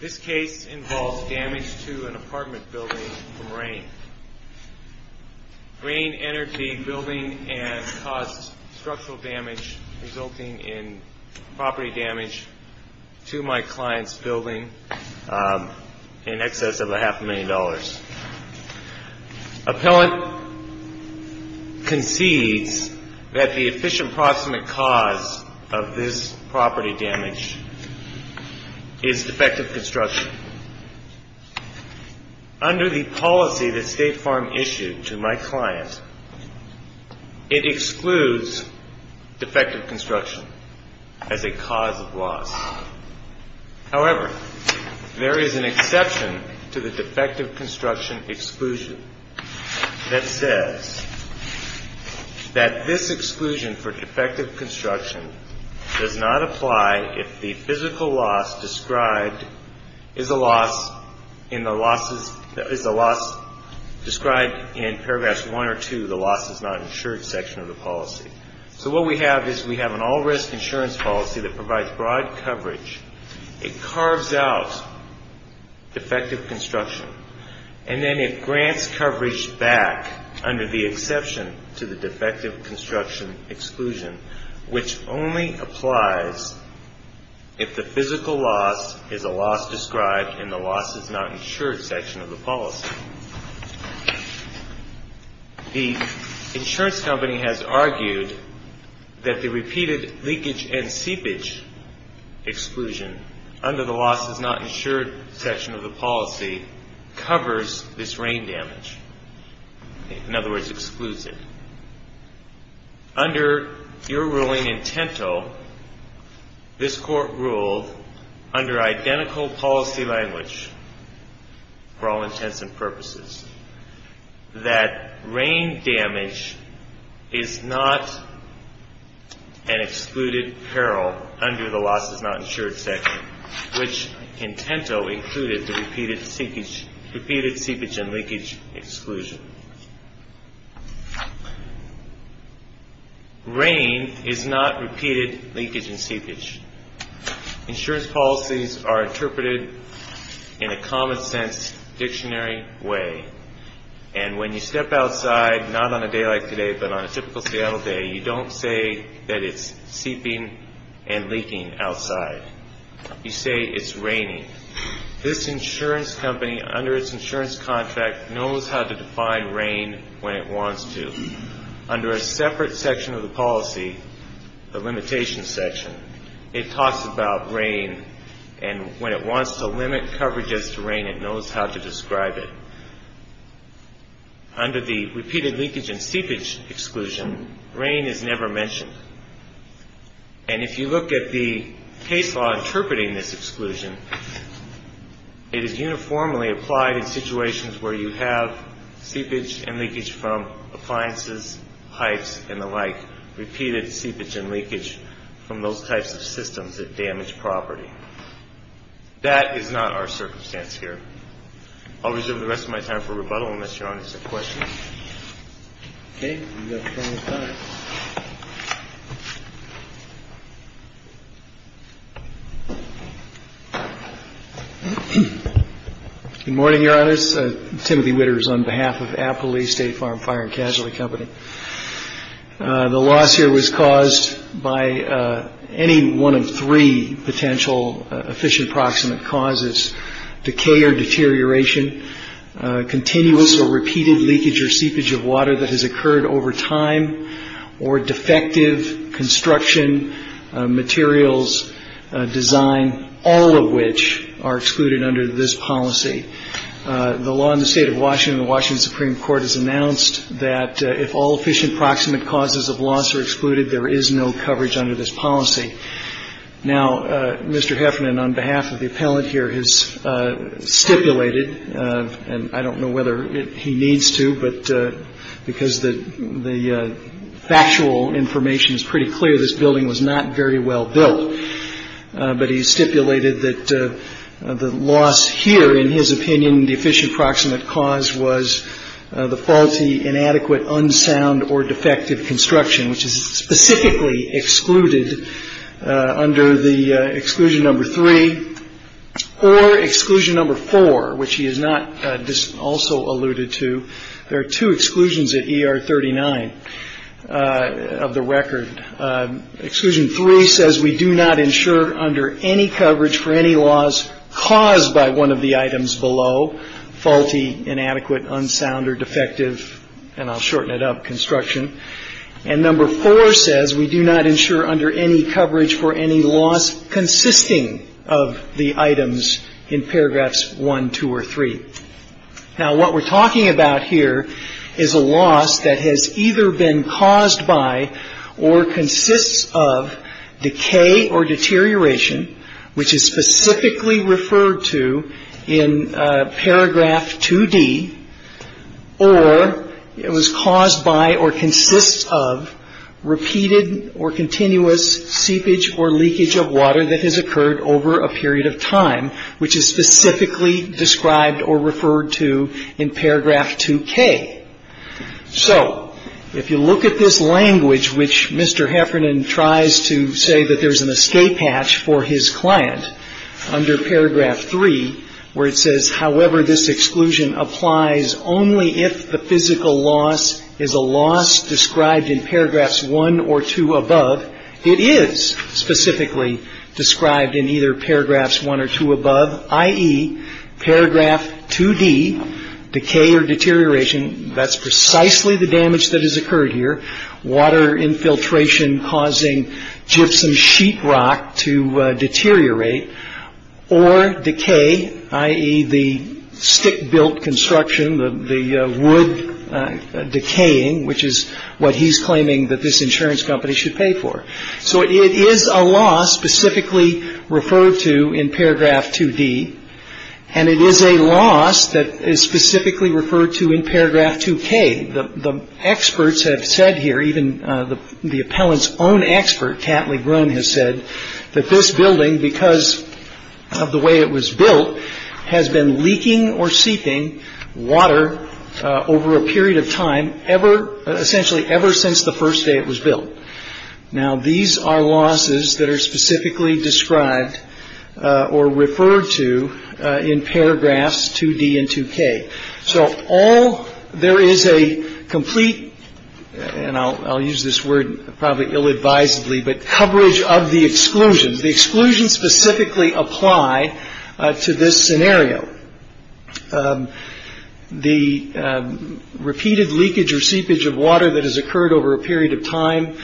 This case involves damage to an apartment building from rain. Rain entered the building and caused structural damage resulting in property damage to my client's building in excess of a half a million dollars. Appellant concedes that the efficient proximate cause of this property damage is defective construction. Under the policy that State Farm issued to my client, it excludes defective construction as a cause of loss. However, there is an exception to the defective construction exclusion that says that this exclusion for defective construction does not apply if the physical loss described is a loss described in paragraphs 1 or 2 of the loss is not insured section of the policy. So what we have is we have an all risk insurance policy that provides broad coverage. It carves out defective construction and then it grants coverage back under the exception to the defective construction exclusion which only applies if the physical loss is a loss described in the loss is not insured section of the policy. The insurance company has argued that the repeated leakage and seepage exclusion under the loss is not insured section of the policy covers this rain damage. In other words, excludes it. Under your ruling in Tinto, this court ruled under identical policy language for all intents and purposes that rain damage is not an excluded peril under the loss is not insured section which in Tinto included the repeated seepage and leakage exclusion. Rain is not repeated leakage and seepage. Insurance policies are interpreted in a common sense dictionary way. And when you step outside, not on a day like today, but on a typical Seattle day, you don't say that it's seeping and leaking outside. You say it's raining. This insurance company under its insurance contract knows how to define rain when it wants to. Under a separate section of the policy, the limitation section, it talks about rain and when it wants to limit coverage as to rain, it knows how to describe it. Under the repeated leakage and seepage exclusion, rain is never mentioned. And if you look at the case law interpreting this exclusion, it is uniformly applied in situations where you have seepage and leakage from appliances, pipes, and the like, repeated seepage and leakage from those types of systems that damage property. That is not our circumstance here. I'll reserve the rest of my time for rebuttal unless Your Honor has a question. Okay. Good morning, Your Honors. Timothy Witters on behalf of Appley State Farm Fire and Casualty Company. The loss here was caused by any one of three potential efficient proximate causes, decay or deterioration, continuous or repeated leakage or seepage of water that has occurred over time, or defective construction, materials, design, all of which are excluded under this policy. The law in the State of Washington and the Washington Supreme Court has announced that if all efficient proximate causes of loss are excluded, Now, Mr. Heffernan on behalf of the appellant here has stipulated, and I don't know whether he needs to, but because the factual information is pretty clear, this building was not very well built. But he stipulated that the loss here, in his opinion, the efficient proximate cause was the faulty, inadequate, unsound, or defective construction, which is specifically excluded under the exclusion number three, or exclusion number four, which he has not also alluded to. There are two exclusions at ER 39 of the record. Exclusion three says we do not insure under any coverage for any loss caused by one of the items below, faulty, inadequate, unsound, or defective, and I'll shorten it up, construction. And number four says we do not insure under any coverage for any loss consisting of the items in paragraphs one, two, or three. Now, what we're talking about here is a loss that has either been caused by or consists of decay or deterioration, which is specifically referred to in paragraph 2D, or it was caused by or consists of repeated or continuous seepage or leakage of water that has occurred over a period of time, which is specifically described or referred to in paragraph 2K. So if you look at this language, which Mr. Heffernan tries to say that there's an escape hatch for his client under paragraph three, where it says, however, this exclusion applies only if the physical loss is a loss described in paragraphs one or two above, it is specifically described in either paragraphs one or two above, i.e., paragraph 2D, decay or deterioration. That's precisely the damage that has occurred here. Water infiltration causing gypsum sheet rock to deteriorate or decay, i.e., the stick built construction, the wood decaying, which is what he's claiming that this insurance company should pay for. So it is a loss specifically referred to in paragraph 2D. And it is a loss that is specifically referred to in paragraph 2K. The experts have said here, even the appellant's own expert, has said that this building, because of the way it was built, has been leaking or seeping water over a period of time ever, essentially ever since the first day it was built. Now, these are losses that are specifically described or referred to in paragraphs 2D and 2K. So all there is a complete, and I'll use this word probably ill advisedly, but coverage of the exclusion. The exclusion specifically apply to this scenario. The repeated leakage or seepage of water that has occurred over a period of time,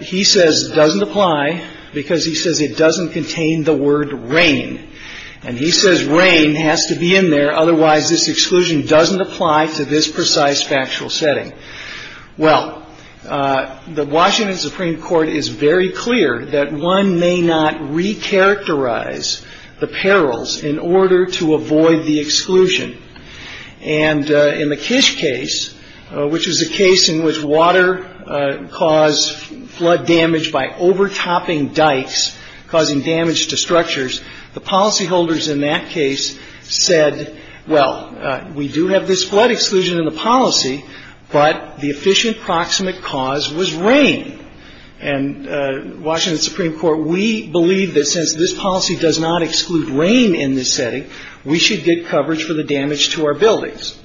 he says, doesn't apply because he says it doesn't contain the word rain. And he says rain has to be in there, otherwise this exclusion doesn't apply to this precise factual setting. Well, the Washington Supreme Court is very clear that one may not recharacterize the perils in order to avoid the exclusion. And in the Kish case, which is a case in which water caused flood damage by overtopping dikes, causing damage to structures, the policyholders in that case said, well, we do have this flood exclusion in the policy, but the efficient proximate cause was rain. And Washington Supreme Court, we believe that since this policy does not exclude rain in this setting, we should get coverage for the damage to our buildings.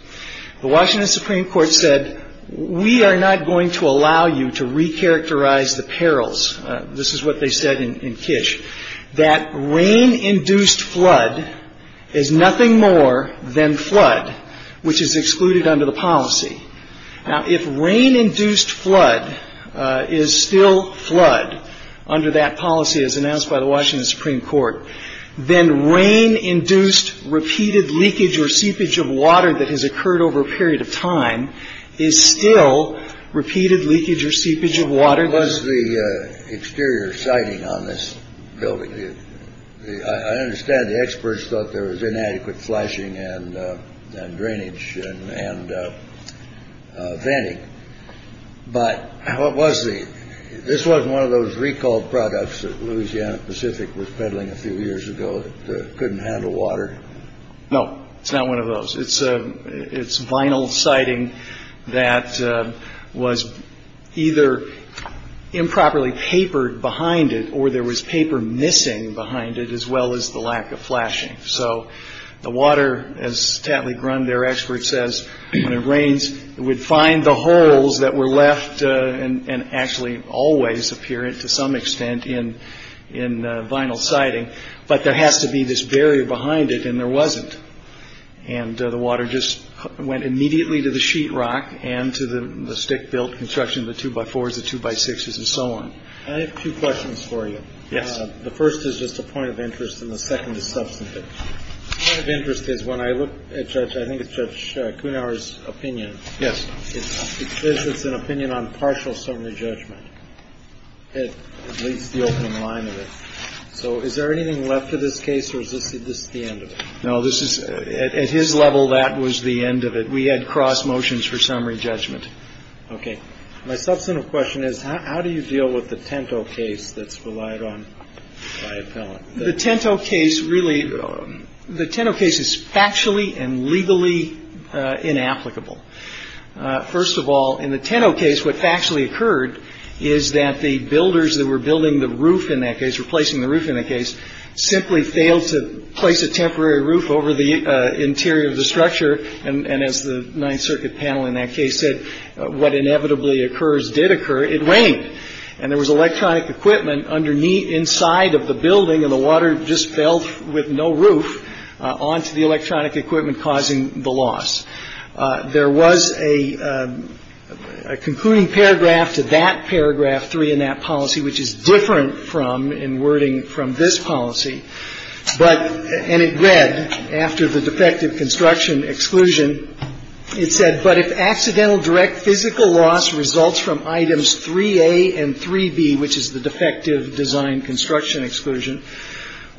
The Washington Supreme Court said, we are not going to allow you to recharacterize the perils. This is what they said in Kish, that rain-induced flood is nothing more than flood, which is excluded under the policy. Now, if rain-induced flood is still flood under that policy as announced by the Washington Supreme Court, then rain-induced repeated leakage or seepage of water that has occurred over a period of time is still repeated leakage or seepage of water. What was the exterior sighting on this building? I understand the experts thought there was inadequate flashing and drainage and venting. But what was the. This was one of those recall products that Louisiana Pacific was peddling a few years ago. It couldn't handle water. No, it's not one of those. It's a it's vinyl sighting that was either improperly papered behind it or there was paper missing behind it, as well as the lack of flashing. So the water, as Tatley Grund, their expert says, when it rains, it would find the holes that were left and actually always appear to some extent in in vinyl sighting. But there has to be this barrier behind it. And there wasn't. And the water just went immediately to the sheetrock and to the stick built construction, the two by fours, the two by sixes and so on. I have two questions for you. Yes. The first is just a point of interest. And the second is substantive interest is when I look at judge, I think it's judge Kunar's opinion. Yes. It's an opinion on partial summary judgment. It leads the opening line of it. So is there anything left to this case or is this the end of it? No, this is at his level. That was the end of it. We had cross motions for summary judgment. OK. My substantive question is, how do you deal with the Tinto case that's relied on the Tinto case? Really, the Tinto case is factually and legally inapplicable. First of all, in the Tinto case, what actually occurred is that the builders that were building the roof in that case, replacing the roof in the case, simply failed to place a temporary roof over the interior of the structure. And as the Ninth Circuit panel in that case said, what inevitably occurs did occur. It rained and there was electronic equipment underneath, inside of the building. And the water just fell with no roof onto the electronic equipment, causing the loss. There was a concluding paragraph to that paragraph three in that policy, which is different from in wording from this policy. But and it read after the defective construction exclusion, it said, but if accidental direct physical loss results from items 3A and 3B, which is the defective design construction exclusion,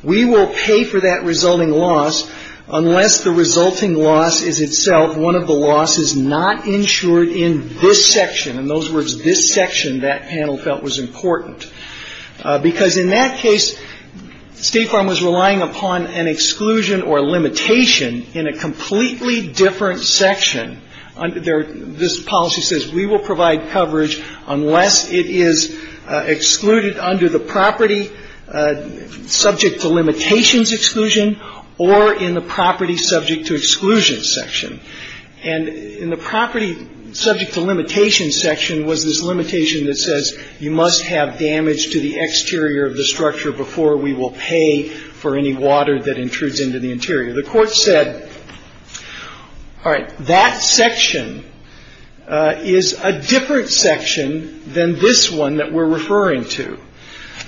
we will pay for that resulting loss unless the resulting loss is itself one of the losses not insured in this section. In those words, this section that panel felt was important. Because in that case, State Farm was relying upon an exclusion or limitation in a completely different section. This policy says we will provide coverage unless it is excluded under the property subject to limitations exclusion or in the property subject to exclusion section. And in the property subject to limitation section was this limitation that says, you must have damage to the exterior of the structure before we will pay for any water that intrudes into the interior. The court said, all right, that section is a different section than this one that we're referring to.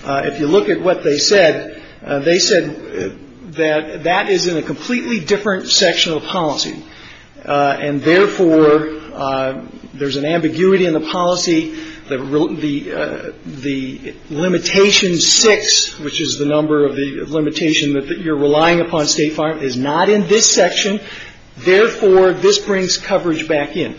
If you look at what they said, they said that that is in a completely different section of policy. And therefore, there's an ambiguity in the policy that the the limitation six, which is the number of the limitation that you're relying upon State Farm, is not in this section. Therefore, this brings coverage back in.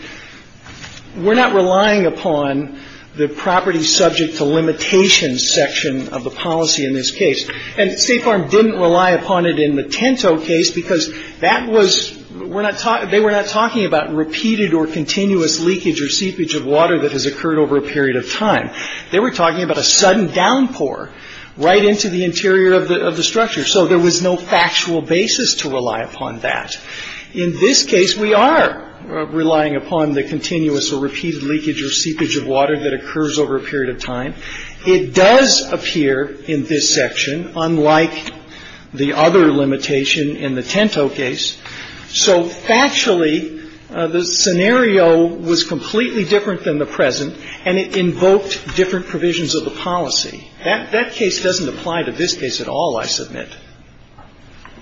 We're not relying upon the property subject to limitations section of the policy in this case. And State Farm didn't rely upon it in the Tinto case because that was we're not talking, they were not talking about repeated or continuous leakage or seepage of water that has occurred over a period of time. They were talking about a sudden downpour right into the interior of the structure. So there was no factual basis to rely upon that. In this case, we are relying upon the continuous or repeated leakage or seepage of water that occurs over a period of time. It does appear in this section, unlike the other limitation in the Tinto case. So actually, the scenario was completely different than the present, and it invoked different provisions of the policy. That that case doesn't apply to this case at all, I submit.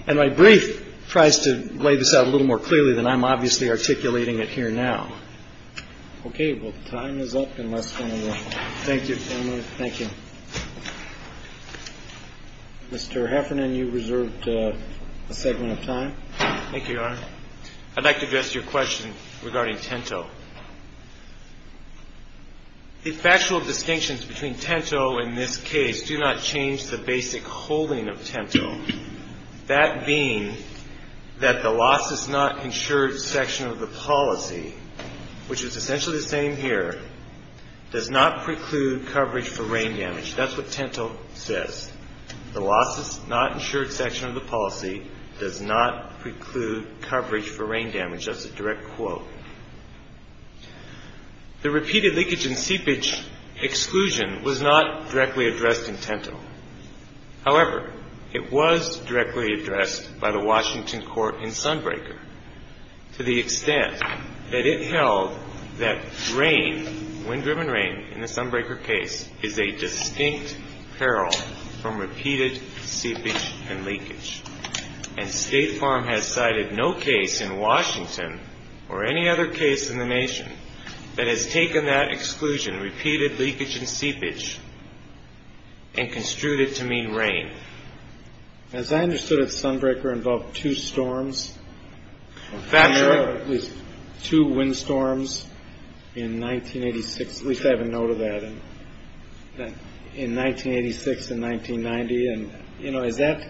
And my brief tries to lay this out a little more clearly than I'm obviously articulating it here now. OK, well, time is up unless. Thank you. Thank you, Mr. Heffernan. You reserved a segment of time. Thank you. I'd like to address your question regarding Tinto. The factual distinctions between Tinto in this case do not change the basic holding of Tinto. That being that the loss is not insured section of the policy, which is essentially the same here, does not preclude coverage for rain damage. That's what Tinto says. The loss is not insured section of the policy does not preclude coverage for rain damage. That's a direct quote. The repeated leakage and seepage exclusion was not directly addressed in Tinto. However, it was directly addressed by the Washington court in Sunbreaker to the extent that it held that rain, wind driven rain in the Sunbreaker case is a distinct peril from repeated seepage and leakage. And State Farm has cited no case in Washington or any other case in the nation that has taken that exclusion, repeated leakage and seepage and construed it to mean rain. As I understood it, Sunbreaker involved two storms, two windstorms in 1986, at least I have a note of that in 1986 and 1990. And, you know, is that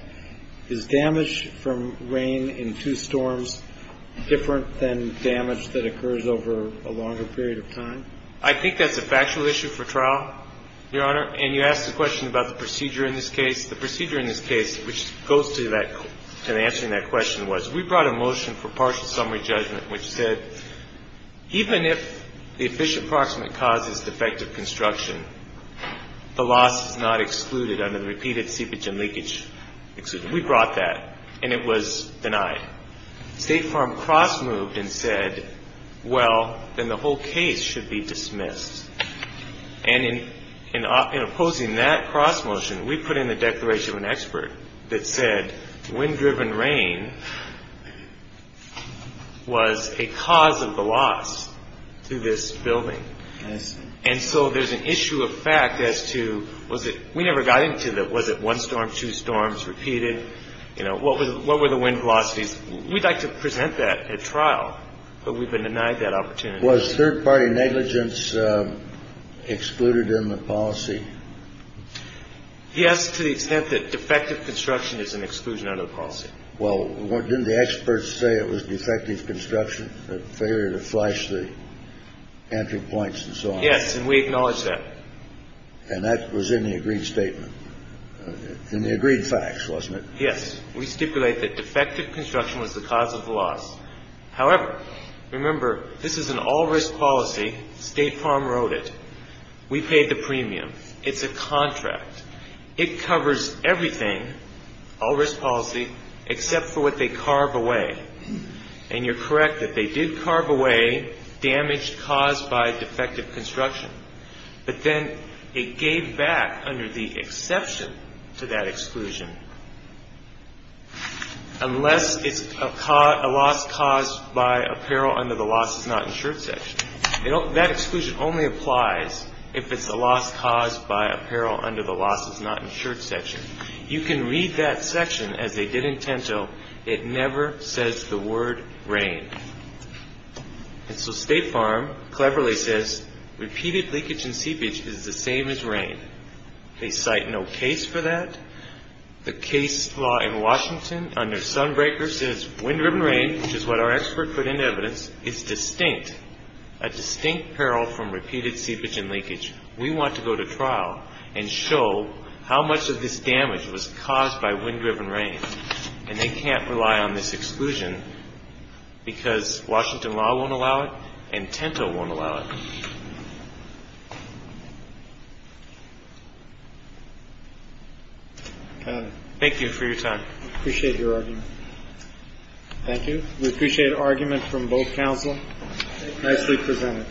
is damage from rain in two storms different than damage that occurs over a longer period of time? I think that's a factual issue for trial, Your Honor. And you asked a question about the procedure in this case. The procedure in this case, which goes to that and answering that question was we brought a motion for partial summary judgment, which said even if the efficient proximate causes defective construction, the loss is not excluded under the repeated seepage and leakage. We brought that and it was denied. State Farm cross moved and said, well, then the whole case should be dismissed. And in opposing that cross motion, we put in the declaration of an expert that said wind driven rain was a cause of the loss to this building. And so there's an issue of fact as to was it we never got into that. Was it one storm, two storms repeated? You know, what was what were the wind velocities? We'd like to present that at trial, but we've been denied that opportunity. Was third party negligence excluded in the policy? Yes. To the extent that defective construction is an exclusion under the policy. Well, didn't the experts say it was defective construction failure to flush the entry points and so on? Yes. And we acknowledge that. And that was in the agreed statement and the agreed facts, wasn't it? Yes. We stipulate that defective construction was the cause of the loss. However, remember, this is an all risk policy. State Farm wrote it. We paid the premium. It's a contract. It covers everything, all risk policy, except for what they carve away. And you're correct that they did carve away damage caused by defective construction. But then it gave back under the exception to that exclusion. Unless it's a loss caused by apparel under the loss is not insured section. That exclusion only applies if it's a loss caused by apparel under the loss is not insured section. You can read that section as they did in Tento. It never says the word rain. And so State Farm cleverly says repeated leakage and seepage is the same as rain. They cite no case for that. The case law in Washington under Sunbreaker says wind driven rain, which is what our expert put in evidence, is distinct. A distinct peril from repeated seepage and leakage. We want to go to trial and show how much of this damage was caused by wind driven rain. And they can't rely on this exclusion because Washington law won't allow it and Tento won't allow it. Thank you for your time. Appreciate your argument. Thank you. We appreciate argument from both counsel. Nicely presented.